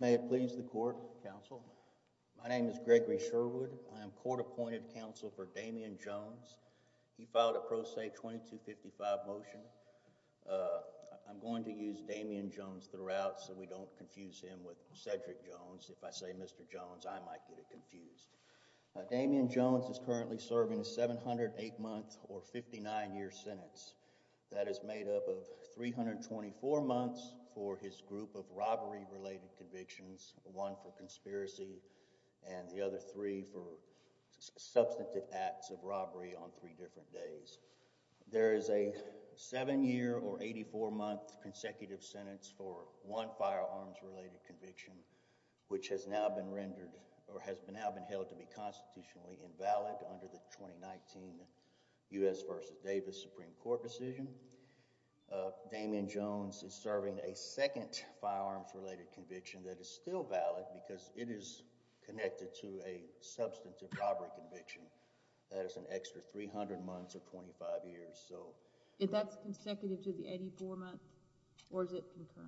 May it please the court, counsel, my name is Gregory Sherwood. I am court-appointed counsel for Damien Jones. He filed a Pro Se 2255 motion. I'm going to use Damien Jones throughout so we don't confuse him with Cedric Jones. If I say Mr. Jones, I might get it wrong. That is made up of 324 months for his group of robbery-related convictions, one for conspiracy and the other three for substantive acts of robbery on three different days. There is a seven-year or 84-month consecutive sentence for one firearms-related conviction, which has now been rendered or has now been held to be constitutionally invalid under the 2019 U.S. v. Davis Supreme Court decision. Damien Jones is serving a second firearms-related conviction that is still valid because it is connected to a substantive robbery conviction that is an extra 300 months or 25 years. Is that consecutive to the 84-month or is it not?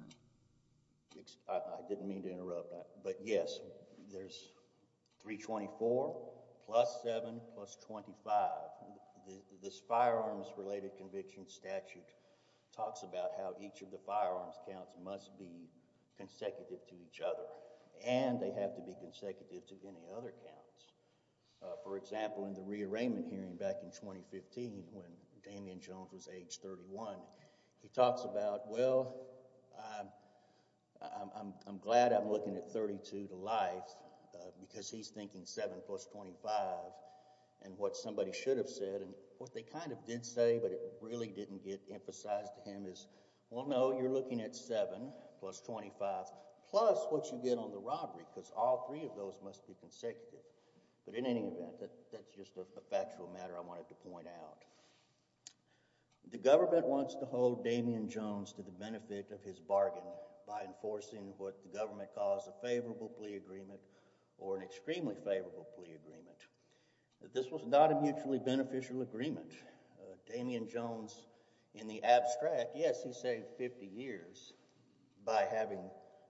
This firearms-related conviction statute talks about how each of the firearms counts must be consecutive to each other and they have to be consecutive to any other counts. For example, in the rearrangement hearing back in 2015 when Damien Jones was age 31, he talks about, well, I'm glad I'm looking at 32 to life because he's thinking 7 plus 25 and what somebody should have said and what they kind of did say but it really didn't get emphasized to him is, well, no, you're looking at 7 plus 25 plus what you get on the robbery because all three of those must be consecutive. But in any event, that's just a factual matter I wanted to point out. The government wants to hold Damien Jones to the benefit of his bargain by enforcing what the government calls a favorable plea agreement or an extremely favorable plea agreement. This was not a mutually beneficial agreement. Damien Jones in the abstract, yes, he saved 50 years by having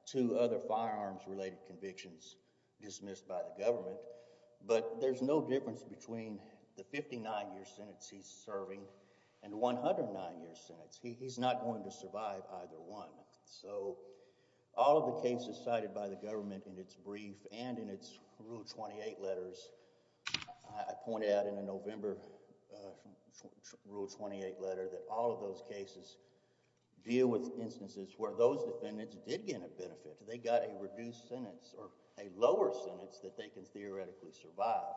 two other firearms-related convictions dismissed by the government but there's no difference between the 59-year sentence he's serving and the 109-year sentence. He's not going to survive either one. So all the cases cited by the government in its brief and in its Rule 28 letters, I pointed out in a November Rule 28 letter that all of those cases deal with instances where those defendants did get a benefit. They got a reduced sentence or a lower sentence that they can theoretically survive.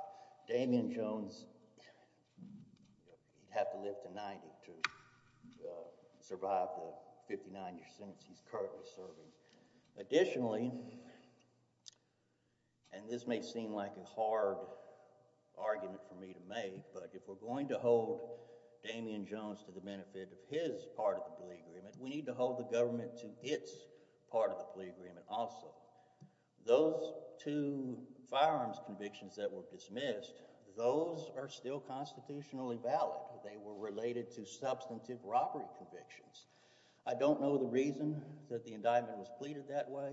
Damien Jones, he'd have to live to 90 to survive the 59-year sentence he's currently serving. Additionally, and this may seem like a hard argument for me to make, but if we're going to hold Damien Jones to the benefit of his part of the plea agreement, we need to hold the government to its part of the plea agreement also. Those two firearms convictions that were dismissed, those are still constitutionally valid. They were related to substantive robbery convictions. I don't know the reason that the indictment was pleaded that way.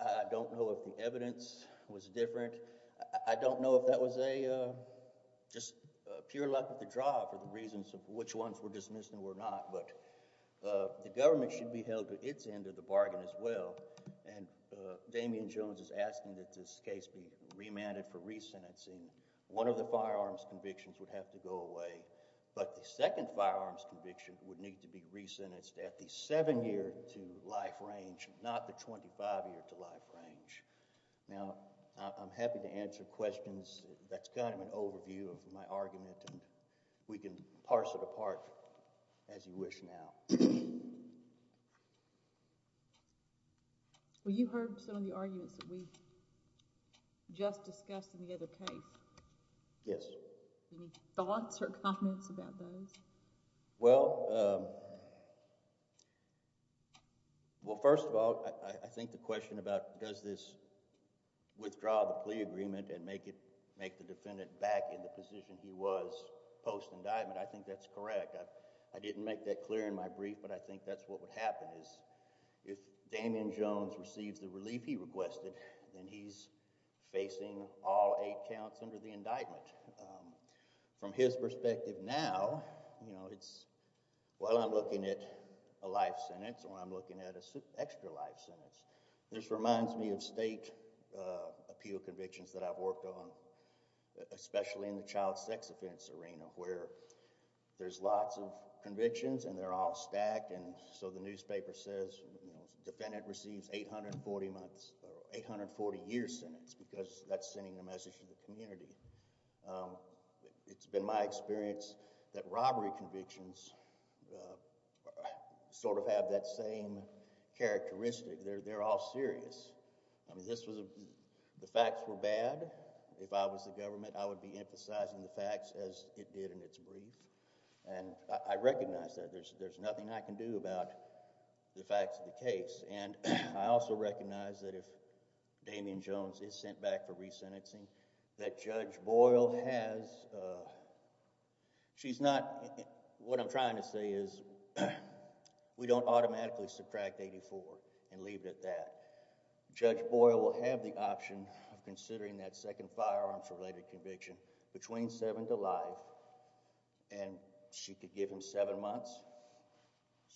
I don't know if the evidence was different. I don't know if that was a just pure luck of the draw for the reasons of which ones were dismissed and were not, but the government should be held to its end of the bargain as well. And Damien Jones is asking that this case be remanded for resentencing. One of the firearms convictions would have to go away, but the second firearms conviction would need to be resentenced at the 7-year to life range, not the 25-year to life range. Now, I'm happy to answer questions. That's kind of an overview of my argument, and we can parse it apart as you wish now. Well, you heard some of the arguments that we just discussed in the other case. Yes. Any thoughts or comments about those? Well, first of all, I think the question about does this withdraw the plea agreement and make the defendant back in the position he was post-indictment, I think that's correct. I didn't make that clear in my brief, but I think that's what would happen is if Damien Jones receives the relief he requested, then he's facing all eight counts under the indictment. From his perspective now, while I'm looking at a life sentence or I'm looking at an extra life sentence, this reminds me of state appeal convictions that I've worked on, especially in the child sex offense arena, where there's lots of convictions and they're all stacked, and so the newspaper says, you know, defendant receives 840-months or 840-year sentence because that's sending a message to the community. It's been my experience that robbery convictions sort of have that same characteristic. They're all serious. I mean, this was... the facts were bad. If I was the government, I would be emphasizing the facts as it did in its brief, and I recognize that. There's nothing I can do about the facts of the case, and I also recognize that if Damien Jones is sent back for resentencing, that Judge Boyle has... she's not... what I'm trying to say is we don't automatically subtract 84 and leave it at that. Judge Boyle will have the option of considering that second firearms-related conviction between 7 and 7 to life, and she could give him 7 months.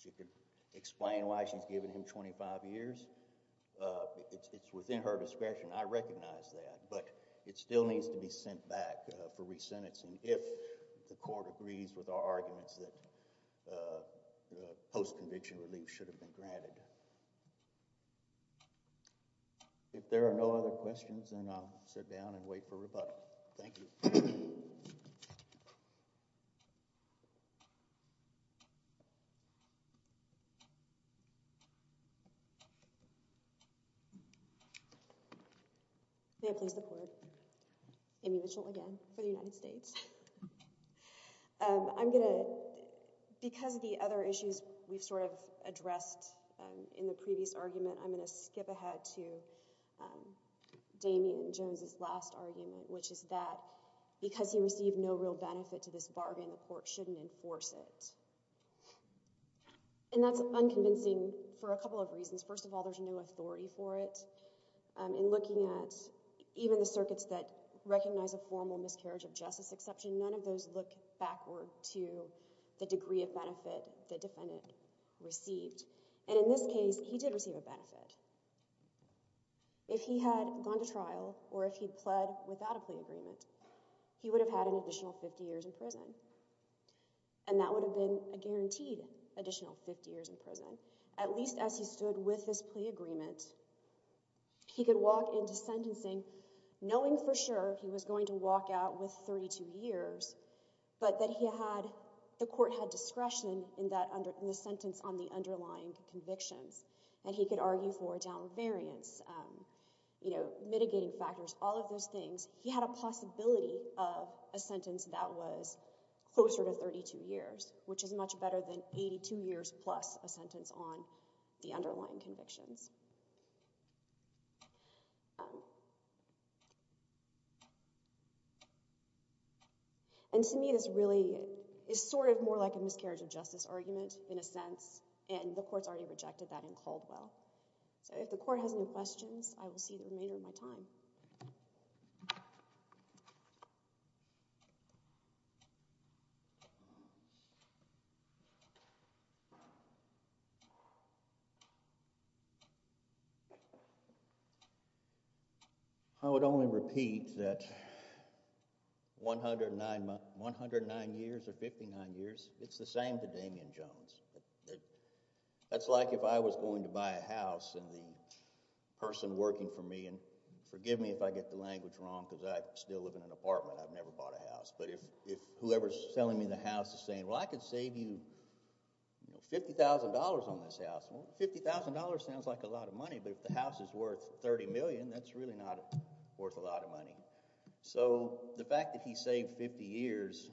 She could explain why she's given him 25 years. It's within her discretion. I recognize that, but it still needs to be sent back for resentencing if the court agrees with our arguments that post-conviction relief should have been granted. If there are no other questions, then I'll sit down and wait for rebuttal. Thank you. May I please have the floor? Amy Mitchell again, for the United States. Because of the other issues we've sort of addressed in the previous argument, I'm going to skip ahead to Damien Jones' last argument, which is that because he received no real benefit to this bargain, the court shouldn't enforce it. And that's unconvincing for a couple of reasons. First of all, there's no authority for it. In looking at even the circuits that recognize a formal miscarriage of justice exception, none of those look backward to the degree of benefit the defendant received. And in this case, he did receive a benefit. If he had gone to trial or if he pled without a plea agreement, he would have had an additional 50 years in prison. And that would have been a guaranteed additional 50 years in prison. At least as he stood with his plea agreement, he could walk into sentencing knowing for sure he was going to walk out with 32 years, but that the court had discretion in the sentence on the underlying convictions. And he could argue for down variance, mitigating factors, all of those things. He had a possibility of a sentence that was closer to 32 years, which is much better than 82 years plus a sentence on the underlying convictions. And to me, this really is sort of more like a miscarriage of justice argument in a sense, and the court's already rejected that in Caldwell. So if the court has any questions, I will see the remainder of my time. I would only repeat that 109 years or 59 years, it's the same to Damien Jones. That's like if I was going to buy a house and the person working for me, and forgive me if I get the language wrong because I still live in an apartment. I've never bought a house. But if whoever's selling me the house is saying, well, I could save you $50,000 on this house. Well, $50,000 sounds like a lot of money. But if the house is worth $30 million, that's really not worth a lot of money. So the fact that he saved 50 years,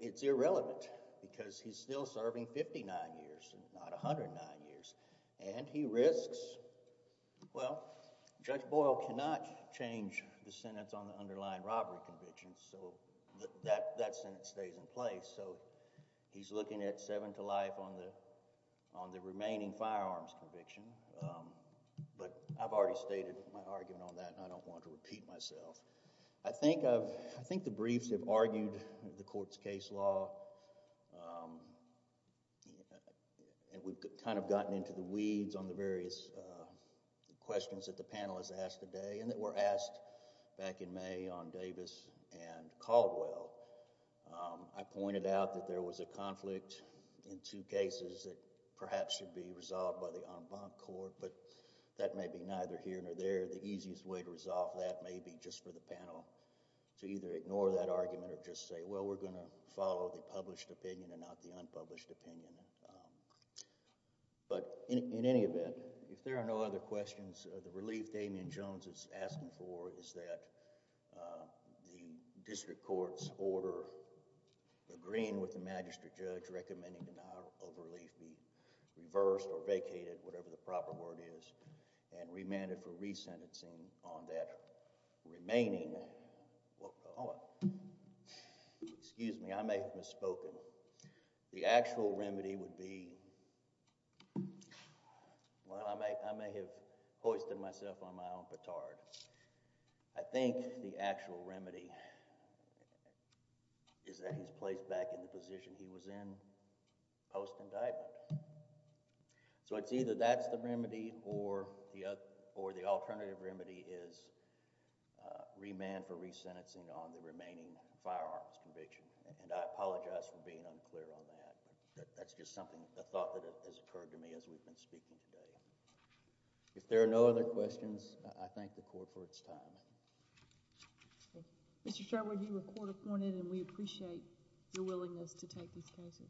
it's irrelevant because he's still serving 59 years, not 109 years. And he risks, well, Judge Boyle cannot change the sentence on the underlying robbery convictions. So that sentence stays in place. So he's looking at seven to life on the remaining firearms conviction. But I've already stated my argument on that, and I don't want to repeat myself. I think the briefs have argued the court's case law, and we've kind of gotten into the weeds on the various questions that the panel has asked today and that were asked back in May on Davis and Caldwell. I pointed out that there was a conflict in two cases that perhaps should be resolved by the en banc court, but that may be neither here nor there. The easiest way to resolve that may be just for the panel to either ignore that argument or just say, well, we're going to follow the published opinion and not the unpublished opinion. But in any event, if there are no other questions, the relief Damien Jones is asking for is that the district court's order agreeing with the magistrate judge recommending denial of relief be reversed or vacated, whatever the proper word is, and remanded for resentencing on that remaining, excuse me, I may have misspoken. The actual remedy would be, well, I may have hoisted myself on my own petard. I think the actual remedy is that he's placed back in the position he was in post-indictment. So it's either that's the remedy or the alternative remedy is remand for resentencing on the remaining firearms conviction. And I apologize for being unclear on that. That's just something, a thought that has occurred to me as we've been speaking today. If there are no other questions, I thank the court for its time. Mr. Sherwood, you were court-appointed, and we appreciate your willingness to take these cases. Thank you. Thank you.